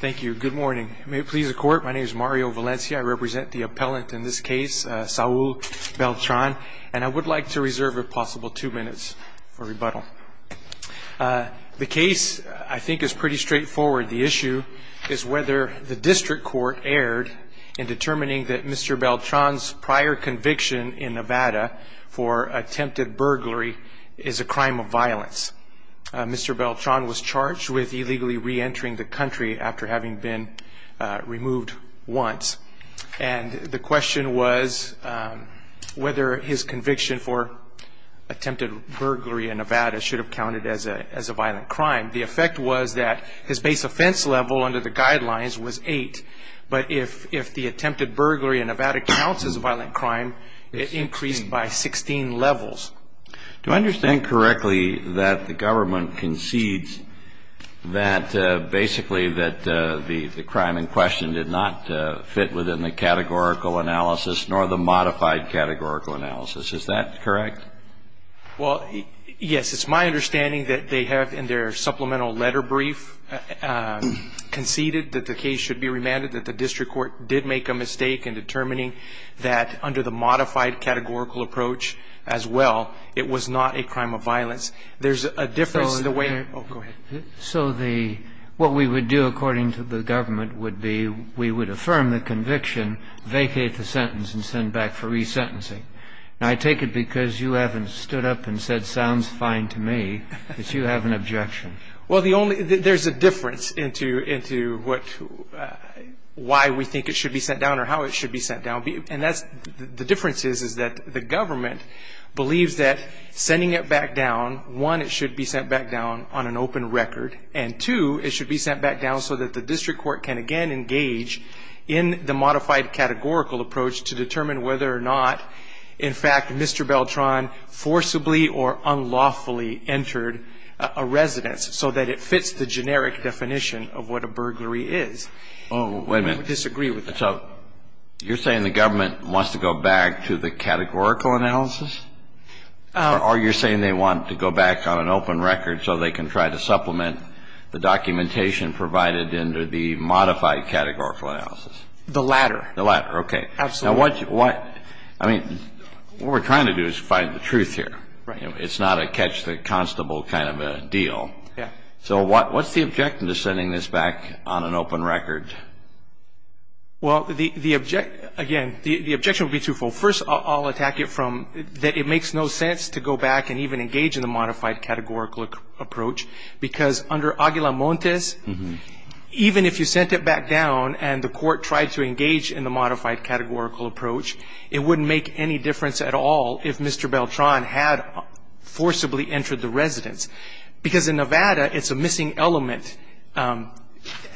Thank you. Good morning. May it please the court. My name is Mario Valencia. I represent the appellant in this case, Saul Beltran, and I would like to reserve if possible two minutes for rebuttal. The case, I think, is pretty straightforward. The issue is whether the district court erred in determining that Mr. Beltran's prior conviction in Nevada for attempted burglary is a crime of violence. Mr. Beltran was charged with illegally reentering the country after having been removed once. And the question was whether his conviction for attempted burglary in Nevada should have counted as a violent crime. The effect was that his base offense level under the guidelines was eight. But if the attempted burglary in Nevada counts as a violent crime, it increased by 16 levels. Do I understand correctly that the government concedes that basically that the crime in question did not fit within the categorical analysis nor the modified categorical analysis? Is that correct? Well, yes. It's my understanding that they have in their supplemental letter brief conceded that the case should be remanded, that the district court did make a mistake in determining that under the modified categorical approach as well, it was not a crime of violence. There's a difference in the way they're – oh, go ahead. So the – what we would do according to the government would be we would affirm the conviction, vacate the sentence, and send back for resentencing. And I take it because you haven't stood up and said, sounds fine to me, that you have an objection. Well, the only – there's a difference into what – why we think it should be sent down or how it should be sent down. And that's – the difference is is that the government believes that sending it back down, one, it should be sent back down on an open record, and two, it should be sent back down so that the district court can again engage in the modified categorical approach to determine whether or not, in fact, Mr. Beltran forcibly or unlawfully entered a residence so that it fits the generic definition of what a burglary is. Oh, wait a minute. We would disagree with that. So you're saying the government wants to go back to the categorical analysis? Or you're saying they want to go back on an open record so they can try to supplement the documentation provided under the modified categorical analysis? The latter. Absolutely. So what – I mean, what we're trying to do is find the truth here. Right. It's not a catch the constable kind of a deal. Yeah. So what's the objection to sending this back on an open record? Well, the – again, the objection would be twofold. First, I'll attack it from that it makes no sense to go back and even engage in the modified categorical approach because under Aguila Montes, even if you sent it back down and the court tried to engage in the modified categorical approach, it wouldn't make any difference at all if Mr. Beltran had forcibly entered the residence. Because in Nevada, it's a missing element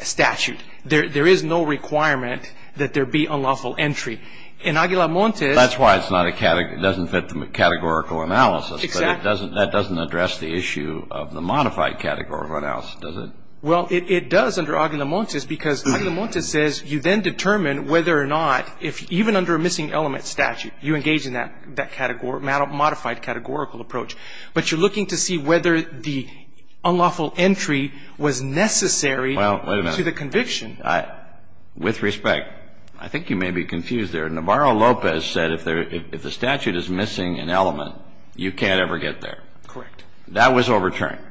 statute. There is no requirement that there be unlawful entry. In Aguila Montes – That's why it's not a – it doesn't fit the categorical analysis. Exactly. But it doesn't – that doesn't address the issue of the modified categorical analysis, does it? Well, it does under Aguila Montes because Aguila Montes says you then determine whether or not, if even under a missing element statute, you engage in that category – modified categorical approach. But you're looking to see whether the unlawful entry was necessary to the conviction. Well, wait a minute. With respect, I think you may be confused there. Navarro Lopez said if the statute is missing an element, you can't ever get there. Correct. That was overturned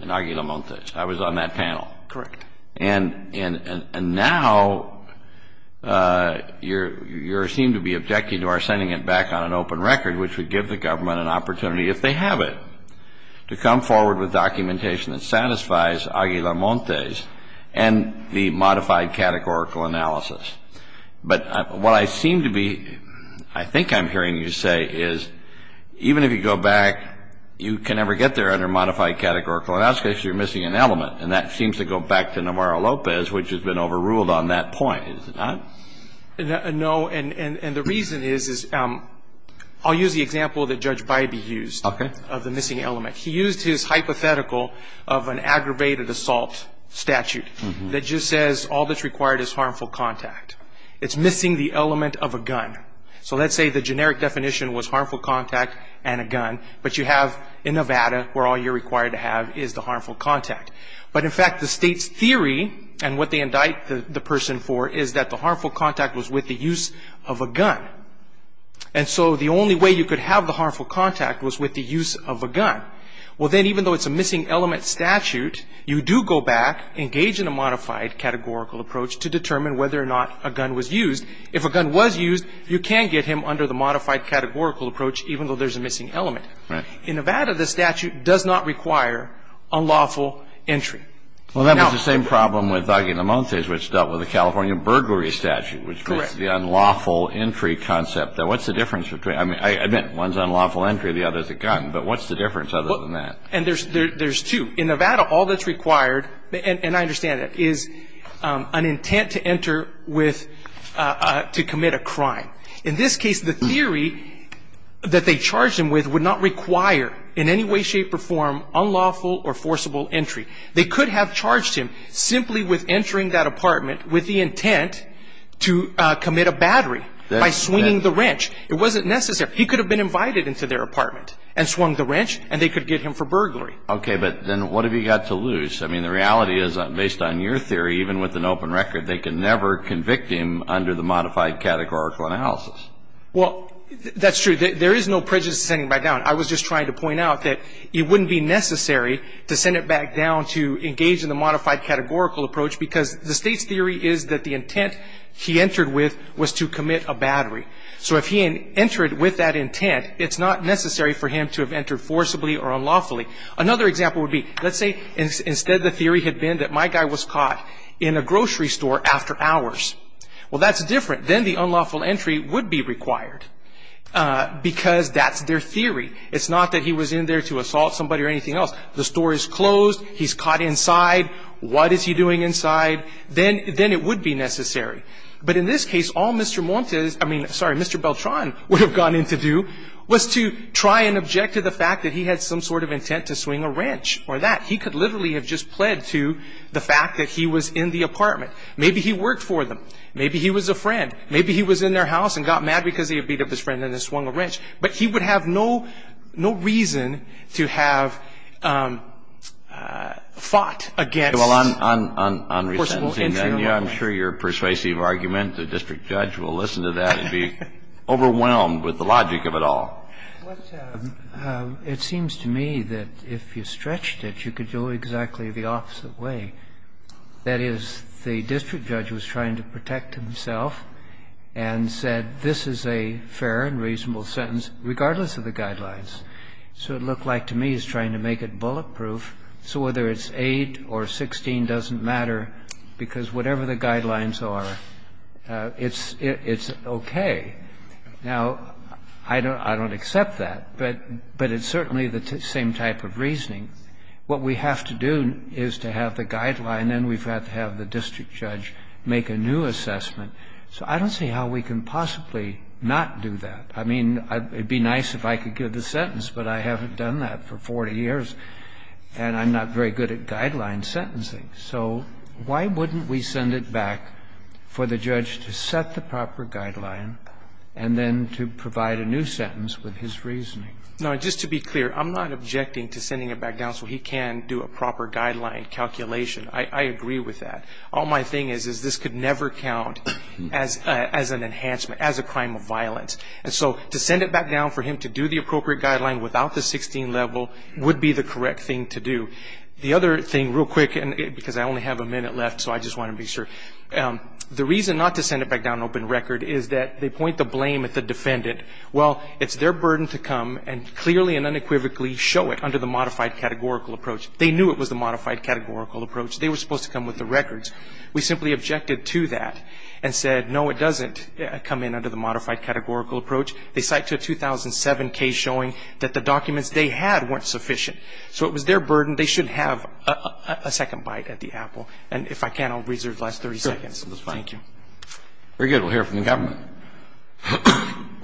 in Aguila Montes. I was on that panel. Correct. And now you seem to be objecting to our sending it back on an open record, which would give the government an opportunity, if they have it, to come forward with documentation that satisfies Aguila Montes and the modified categorical analysis. But what I seem to be – I think I'm hearing you say is even if you go back, you can never get there under modified categorical analysis if you're missing an element. And that seems to go back to Navarro Lopez, which has been overruled on that point. Is it not? No. And the reason is – I'll use the example that Judge Bybee used of the missing element. He used his hypothetical of an aggravated assault statute that just says all that's required is harmful contact. It's missing the element of a gun. So let's say the generic definition was harmful contact and a gun, but you have in Nevada where all you're required to have is the harmful contact. But, in fact, the state's theory, and what they indict the person for, is that the harmful contact was with the use of a gun. And so the only way you could have the harmful contact was with the use of a gun. Well, then even though it's a missing element statute, you do go back, engage in a modified categorical approach to determine whether or not a gun was used. If a gun was used, you can get him under the modified categorical approach, even though there's a missing element. Right. In Nevada, the statute does not require unlawful entry. Well, that was the same problem with Aguilamontes, which dealt with the California burglary statute. Correct. Which makes the unlawful entry concept. Now, what's the difference between – I mean, I admit one's unlawful entry, the other's a gun. But what's the difference other than that? And there's two. In Nevada, all that's required – and I understand that – is an intent to enter with – to commit a crime. In this case, the theory that they charged him with would not require in any way, shape, or form unlawful or forcible entry. They could have charged him simply with entering that apartment with the intent to commit a battery by swinging the wrench. It wasn't necessary. He could have been invited into their apartment and swung the wrench, and they could get him for burglary. Okay. But then what have you got to lose? I mean, the reality is, based on your theory, even with an open record, they can never convict him under the modified categorical analysis. Well, that's true. There is no prejudice to send him back down. I was just trying to point out that it wouldn't be necessary to send him back down to engage in the modified categorical approach because the State's theory is that the intent he entered with was to commit a battery. So if he entered with that intent, it's not necessary for him to have entered forcibly or unlawfully. Another example would be, let's say instead the theory had been that my guy was caught in a grocery store after hours. Well, that's different. Then the unlawful entry would be required because that's their theory. It's not that he was in there to assault somebody or anything else. The store is closed. He's caught inside. What is he doing inside? Then it would be necessary. But in this case, all Mr. Montes – I mean, sorry, Mr. Beltran would have gone in to do was to try and object to the fact that he had some sort of intent to swing a wrench or that. He could literally have just pled to the fact that he was in the apartment. Maybe he worked for them. Maybe he was a friend. Maybe he was in their house and got mad because he had beat up his friend and then swung a wrench. But he would have no reason to have fought against forceful entry. Well, on resentencing, I'm sure your persuasive argument, the district judge will listen to that and be overwhelmed with the logic of it all. It seems to me that if you stretched it, you could go exactly the opposite way. That is, the district judge was trying to protect himself and said, this is a fair and reasonable sentence, regardless of the guidelines. So it looked like to me he was trying to make it bulletproof. So whether it's 8 or 16 doesn't matter, because whatever the guidelines are, it's okay. Now, I don't accept that. But it's certainly the same type of reasoning. What we have to do is to have the guideline, and then we have to have the district judge make a new assessment. So I don't see how we can possibly not do that. I mean, it would be nice if I could give the sentence, but I haven't done that for 40 years, and I'm not very good at guideline sentencing. So why wouldn't we send it back for the judge to set the proper guideline and then to provide a new sentence with his reasoning? No, just to be clear, I'm not objecting to sending it back down so he can do a proper guideline calculation. I agree with that. All my thing is, is this could never count as an enhancement, as a crime of violence. And so to send it back down for him to do the appropriate guideline without the 16 level would be the correct thing to do. The other thing, real quick, because I only have a minute left, so I just want to be sure. The reason not to send it back down open record is that they point the blame at the defendant. Well, it's their burden to come and clearly and unequivocally show it under the modified categorical approach. They knew it was the modified categorical approach. They were supposed to come with the records. We simply objected to that and said, no, it doesn't come in under the modified categorical approach. They cite a 2007 case showing that the documents they had weren't sufficient. So it was their burden. They should have a second bite at the apple. And if I can, I'll reserve the last 30 seconds. Thank you. Very good. We'll hear from the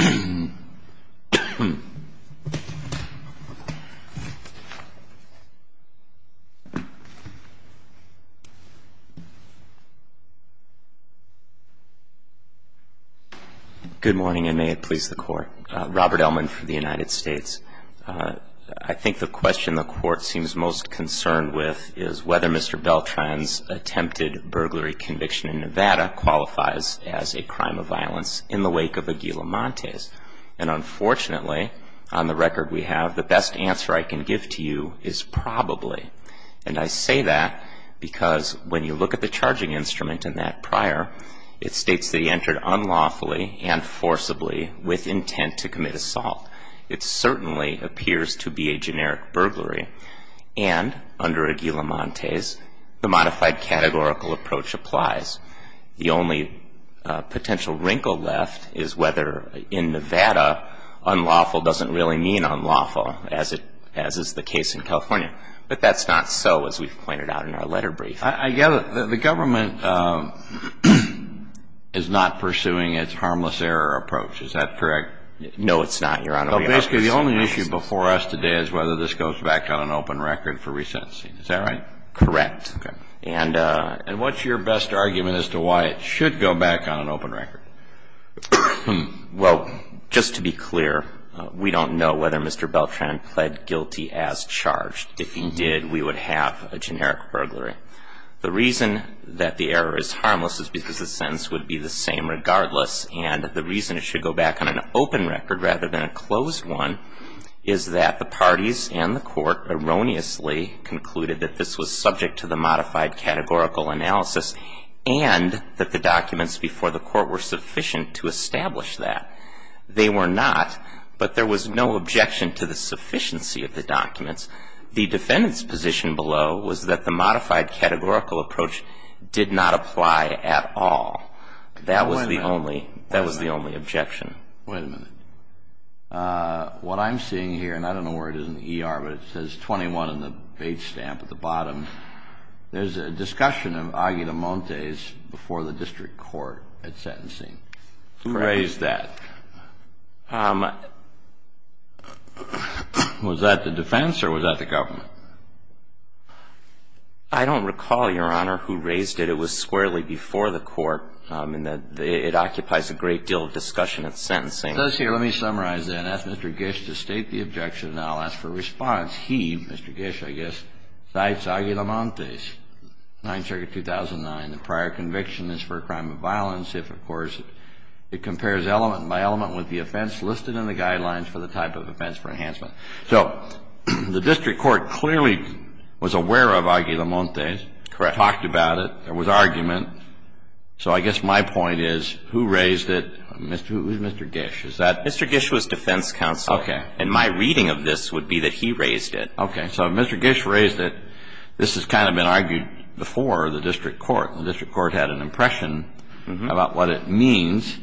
government. Good morning, and may it please the Court. Robert Ellman from the United States. I think the question the Court seems most concerned with is whether Mr. Beltran's attempted burglary conviction in Nevada qualifies as a crime of violence in the wake of Aguila Montes. And unfortunately, on the record we have, the best answer I can give to you is probably. And I say that because when you look at the charging instrument in that prior, it states that he entered unlawfully and forcibly with intent to commit assault. It certainly appears to be a generic burglary. And under Aguila Montes, the modified categorical approach applies. The only potential wrinkle left is whether in Nevada unlawful doesn't really mean unlawful, as is the case in California. But that's not so, as we've pointed out in our letter brief. I gather the government is not pursuing its harmless error approach. Is that correct? No, it's not, Your Honor. Well, basically the only issue before us today is whether this goes back on an open record for resentencing. Is that right? Correct. Okay. And what's your best argument as to why it should go back on an open record? Well, just to be clear, we don't know whether Mr. Beltran pled guilty as charged. If he did, we would have a generic burglary. The reason that the error is harmless is because the sentence would be the same regardless. And the reason it should go back on an open record rather than a closed one is that the parties and the court erroneously concluded that this was subject to the modified categorical analysis and that the documents before the court were sufficient to establish that. They were not, but there was no objection to the sufficiency of the documents. The defendant's position below was that the modified categorical approach did not apply at all. That was the only objection. Wait a minute. What I'm seeing here, and I don't know where it is in the ER, but it says 21 in the page stamp at the bottom. There's a discussion of agitamontes before the district court at sentencing. Who raised that? Was that the defense or was that the government? I don't recall, Your Honor, who raised it. It was squarely before the court in that it occupies a great deal of discussion at sentencing. It does here. Let me summarize then. Ask Mr. Gish to state the objection and I'll ask for a response. He, Mr. Gish, I guess, cites agitamontes, 9th Circuit 2009. The prior conviction is for a crime of violence if, of course, it compares element by element with the offense listed in the guidelines for the type of offense for enhancement. So the district court clearly was aware of agitamontes. Correct. They talked about it. There was argument. So I guess my point is who raised it? It was Mr. Gish. Is that? Mr. Gish was defense counsel. Okay. And my reading of this would be that he raised it. Okay. So if Mr. Gish raised it, this has kind of been argued before the district court. The district court had an impression about what it means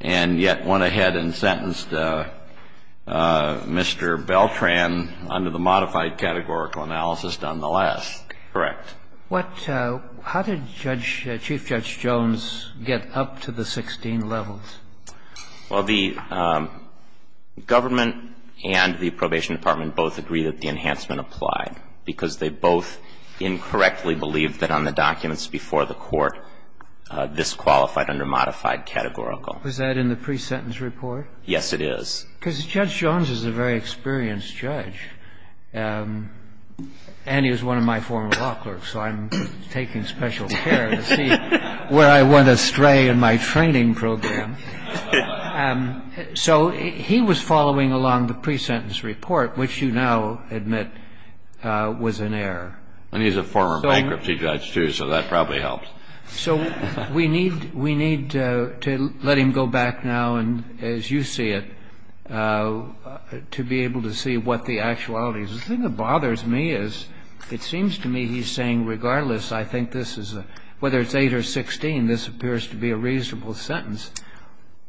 and yet went ahead and sentenced Mr. Beltran under the modified categorical analysis nonetheless. Correct. How did Chief Judge Jones get up to the 16 levels? Well, the government and the probation department both agreed that the enhancement applied because they both incorrectly believed that on the documents before the court this qualified under modified categorical. Was that in the pre-sentence report? Yes, it is. Because Judge Jones is a very experienced judge. And he was one of my former law clerks. So I'm taking special care to see where I went astray in my training program. So he was following along the pre-sentence report, which you now admit was an error. And he's a former bankruptcy judge, too, so that probably helped. So we need to let him go back now, as you see it, to be able to see what the actuality is. The thing that bothers me is it seems to me he's saying, regardless, I think this is a — whether it's 8 or 16, this appears to be a reasonable sentence.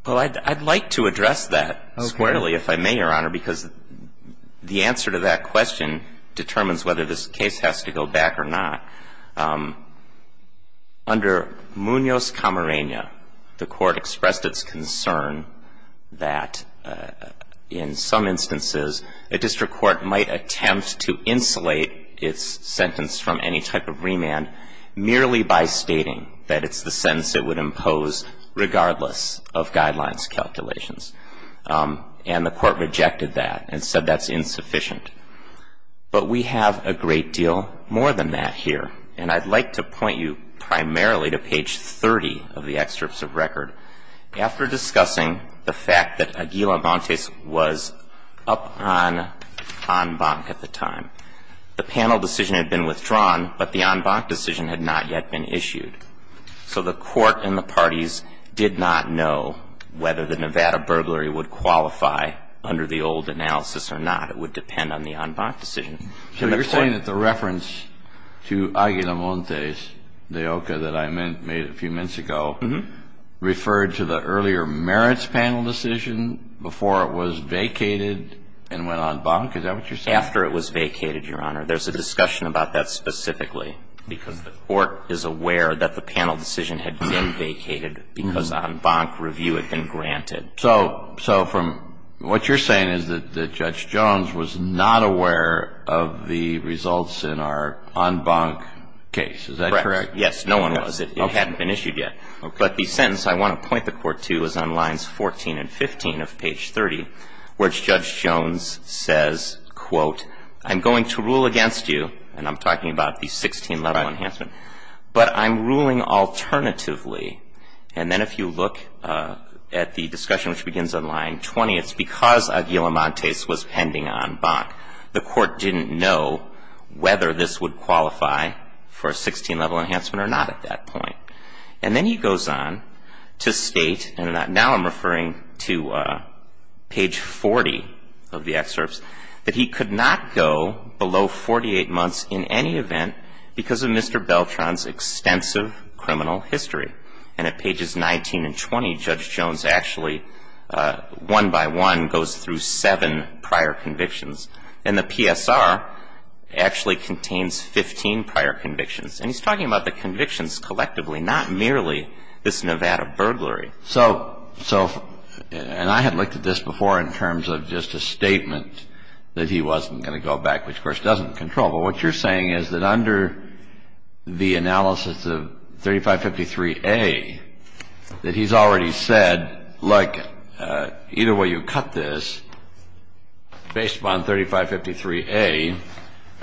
Well, I'd like to address that squarely, if I may, Your Honor, because the answer to that question determines whether this case has to go back or not. Under Munoz-Camarena, the Court expressed its concern that, in some instances, a district court might attempt to insulate its sentence from any type of remand merely by stating that it's the sentence it would impose regardless of guidelines calculations. And the Court rejected that and said that's insufficient. But we have a great deal more than that here. And I'd like to point you primarily to page 30 of the excerpts of record, after discussing the fact that Aguila-Vontes was up on en banc at the time. The panel decision had been withdrawn, but the en banc decision had not yet been issued. So the Court and the parties did not know whether the Nevada burglary would qualify under the old analysis or not. It would depend on the en banc decision. So you're saying that the reference to Aguila-Vontes, the OCA that I made a few minutes ago, referred to the earlier merits panel decision before it was vacated and went en banc? Is that what you're saying? After it was vacated, Your Honor. There's a discussion about that specifically because the Court is aware that the panel decision had been vacated because en banc review had been granted. So from what you're saying is that Judge Jones was not aware of the results in our en banc case. Is that correct? Yes. No one was. It hadn't been issued yet. But the sentence I want to point the Court to is on lines 14 and 15 of page 30, where Judge Jones says, quote, I'm going to rule against you, and I'm talking about the 16-level enhancement, but I'm ruling alternatively. And then if you look at the discussion which begins on line 20, it's because Aguila-Vontes was pending en banc. The Court didn't know whether this would qualify for a 16-level enhancement or not at that point. And then he goes on to state, and now I'm referring to page 40 of the excerpts, that he could not go below 48 months in any event because of Mr. Beltran's extensive criminal history. And at pages 19 and 20, Judge Jones actually, one by one, goes through seven prior convictions. And the PSR actually contains 15 prior convictions. And he's talking about the convictions collectively, not merely this Nevada burglary. So, and I had looked at this before in terms of just a statement that he wasn't going to go back, which, of course, doesn't control. But what you're saying is that under the analysis of 3553A, that he's already said, look, either way you cut this, based upon 3553A,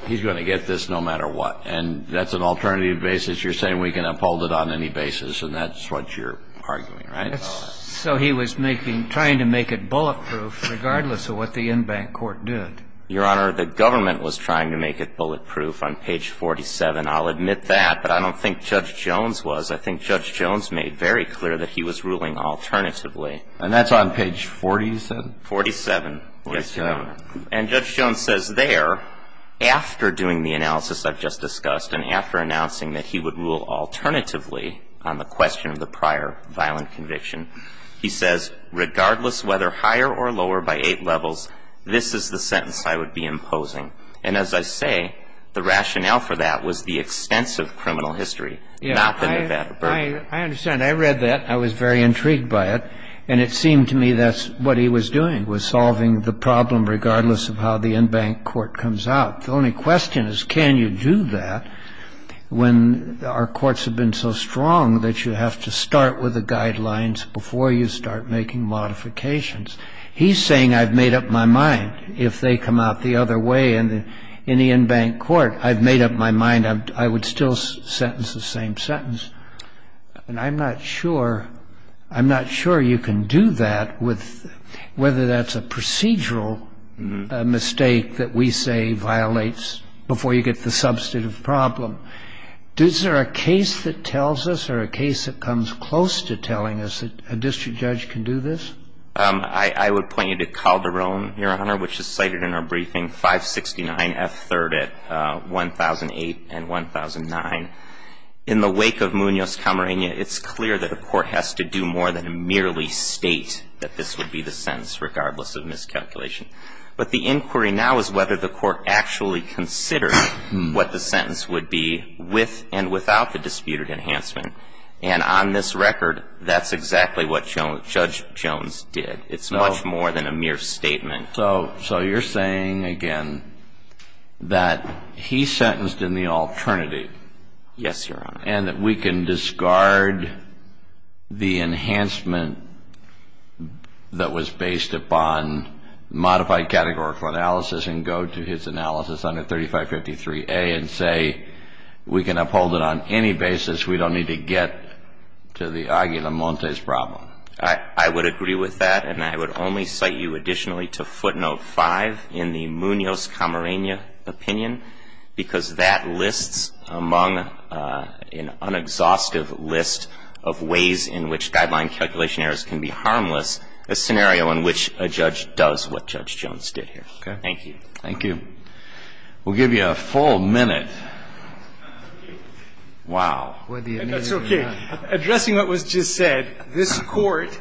he's going to get this no matter what. And that's an alternative basis. You're saying we can uphold it on any basis, and that's what you're arguing, right? So he was making, trying to make it bulletproof regardless of what the en banc court did. Your Honor, the government was trying to make it bulletproof on page 47. I'll admit that, but I don't think Judge Jones was. I think Judge Jones made very clear that he was ruling alternatively. And that's on page 47? 47. 47. And Judge Jones says there, after doing the analysis I've just discussed, and after announcing that he would rule alternatively on the question of the prior violent conviction, he says, regardless whether higher or lower by eight levels, this is the sentence I would be imposing. And as I say, the rationale for that was the extensive criminal history, not the Nevada burden. I understand. I read that. I was very intrigued by it. And it seemed to me that's what he was doing, was solving the problem regardless of how the en banc court comes out. The only question is, can you do that when our courts have been so strong that you have to start with the guidelines before you start making modifications? He's saying I've made up my mind. If they come out the other way in the en banc court, I've made up my mind. I would still sentence the same sentence. And I'm not sure you can do that with whether that's a procedural mistake that we say violates before you get to the substantive problem. Is there a case that tells us or a case that comes close to telling us that a district judge can do this? I would point you to Calderon, Your Honor, which is cited in our briefing, 569 F3rd at 1008 and 1009. In the wake of Munoz-Camarena, it's clear that a court has to do more than merely state that this would be the sentence regardless of miscalculation. But the inquiry now is whether the court actually considered what the sentence would be with and without the disputed enhancement. And on this record, that's exactly what Judge Jones did. It's much more than a mere statement. So you're saying, again, that he sentenced in the alternative. Yes, Your Honor. And that we can discard the enhancement that was based upon modified categorical analysis and go to his analysis under 3553A and say we can uphold it on any basis. We don't need to get to the Aguilar-Montes problem. I would agree with that. And I would only cite you additionally to footnote 5 in the Munoz-Camarena opinion because that lists among an unexhaustive list of ways in which guideline calculation errors can be harmless a scenario in which a judge does what Judge Jones did here. Okay. Thank you. Thank you. We'll give you a full minute. Wow. That's okay. Addressing what was just said, this Court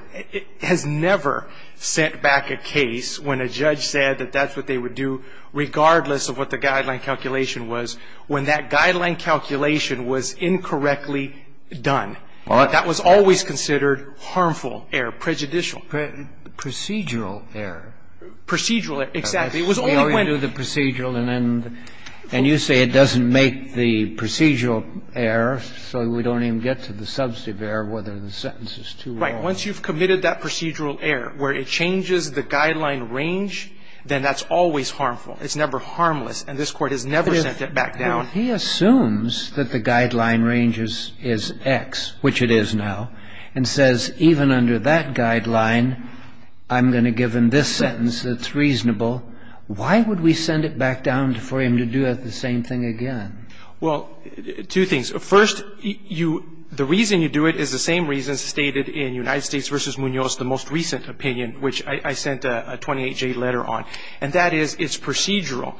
has never sent back a case when a judge said that that's what they would do regardless of what the guideline calculation was when that guideline calculation was incorrectly done. That was always considered harmful error, prejudicial. Procedural error. Procedural error, exactly. And you say it doesn't make the procedural error so we don't even get to the substantive error whether the sentence is too long. Right. Once you've committed that procedural error where it changes the guideline range, then that's always harmful. It's never harmless. And this Court has never sent it back down. He assumes that the guideline range is X, which it is now, and says even under that Why would we send it back down for him to do the same thing again? Well, two things. First, the reason you do it is the same reason stated in United States v. Munoz, the most recent opinion, which I sent a 28-J letter on, and that is it's procedural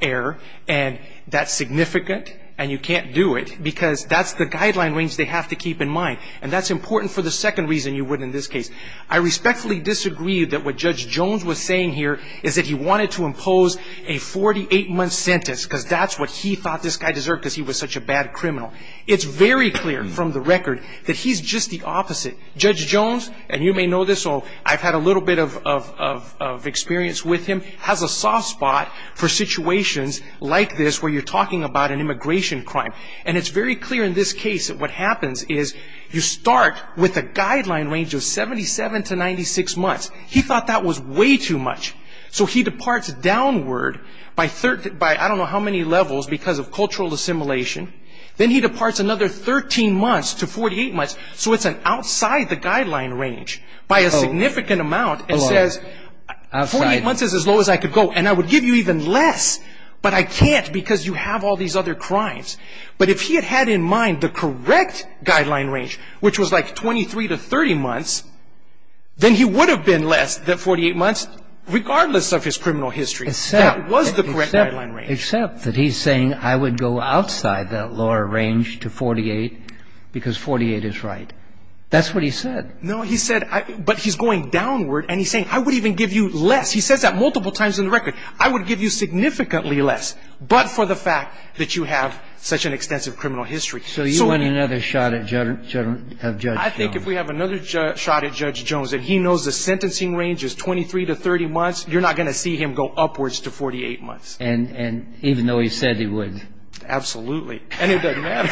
error and that's significant and you can't do it because that's the guideline range they have to keep in mind. And that's important for the second reason you would in this case. I respectfully disagree that what Judge Jones was saying here is that he wanted to impose a 48-month sentence because that's what he thought this guy deserved because he was such a bad criminal. It's very clear from the record that he's just the opposite. Judge Jones, and you may know this or I've had a little bit of experience with him, has a soft spot for situations like this where you're talking about an immigration crime. And it's very clear in this case that what happens is you start with a guideline range of 77 to 96 months. He thought that was way too much. So he departs downward by I don't know how many levels because of cultural assimilation. Then he departs another 13 months to 48 months. So it's an outside the guideline range by a significant amount and says 48 months is as low as I could go and I would give you even less, but I can't because you have all these other crimes. But if he had had in mind the correct guideline range, which was like 23 to 30 months, then he would have been less than 48 months regardless of his criminal history. That was the correct guideline range. Except that he's saying I would go outside that lower range to 48 because 48 is right. That's what he said. No, he said but he's going downward and he's saying I would even give you less. He says that multiple times in the record. I would give you significantly less, but for the fact that you have such an extensive criminal history. So you want another shot at Judge Jones. I think if we have another shot at Judge Jones and he knows the sentencing range is 23 to 30 months, you're not going to see him go upwards to 48 months. And even though he said he would. Absolutely. And it doesn't matter.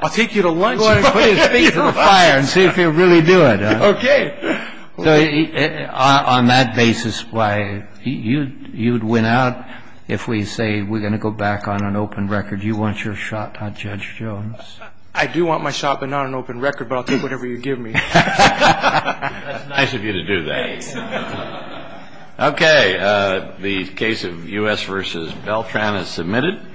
I'll take you to lunch. Put his face in the fire and see if he'll really do it. Okay. So on that basis, why, you'd win out if we say we're going to go back on an open record. You want your shot at Judge Jones. I do want my shot, but not an open record. But I'll take whatever you give me. That's nice of you to do that. Okay. The case of U.S. v. Beltran is submitted.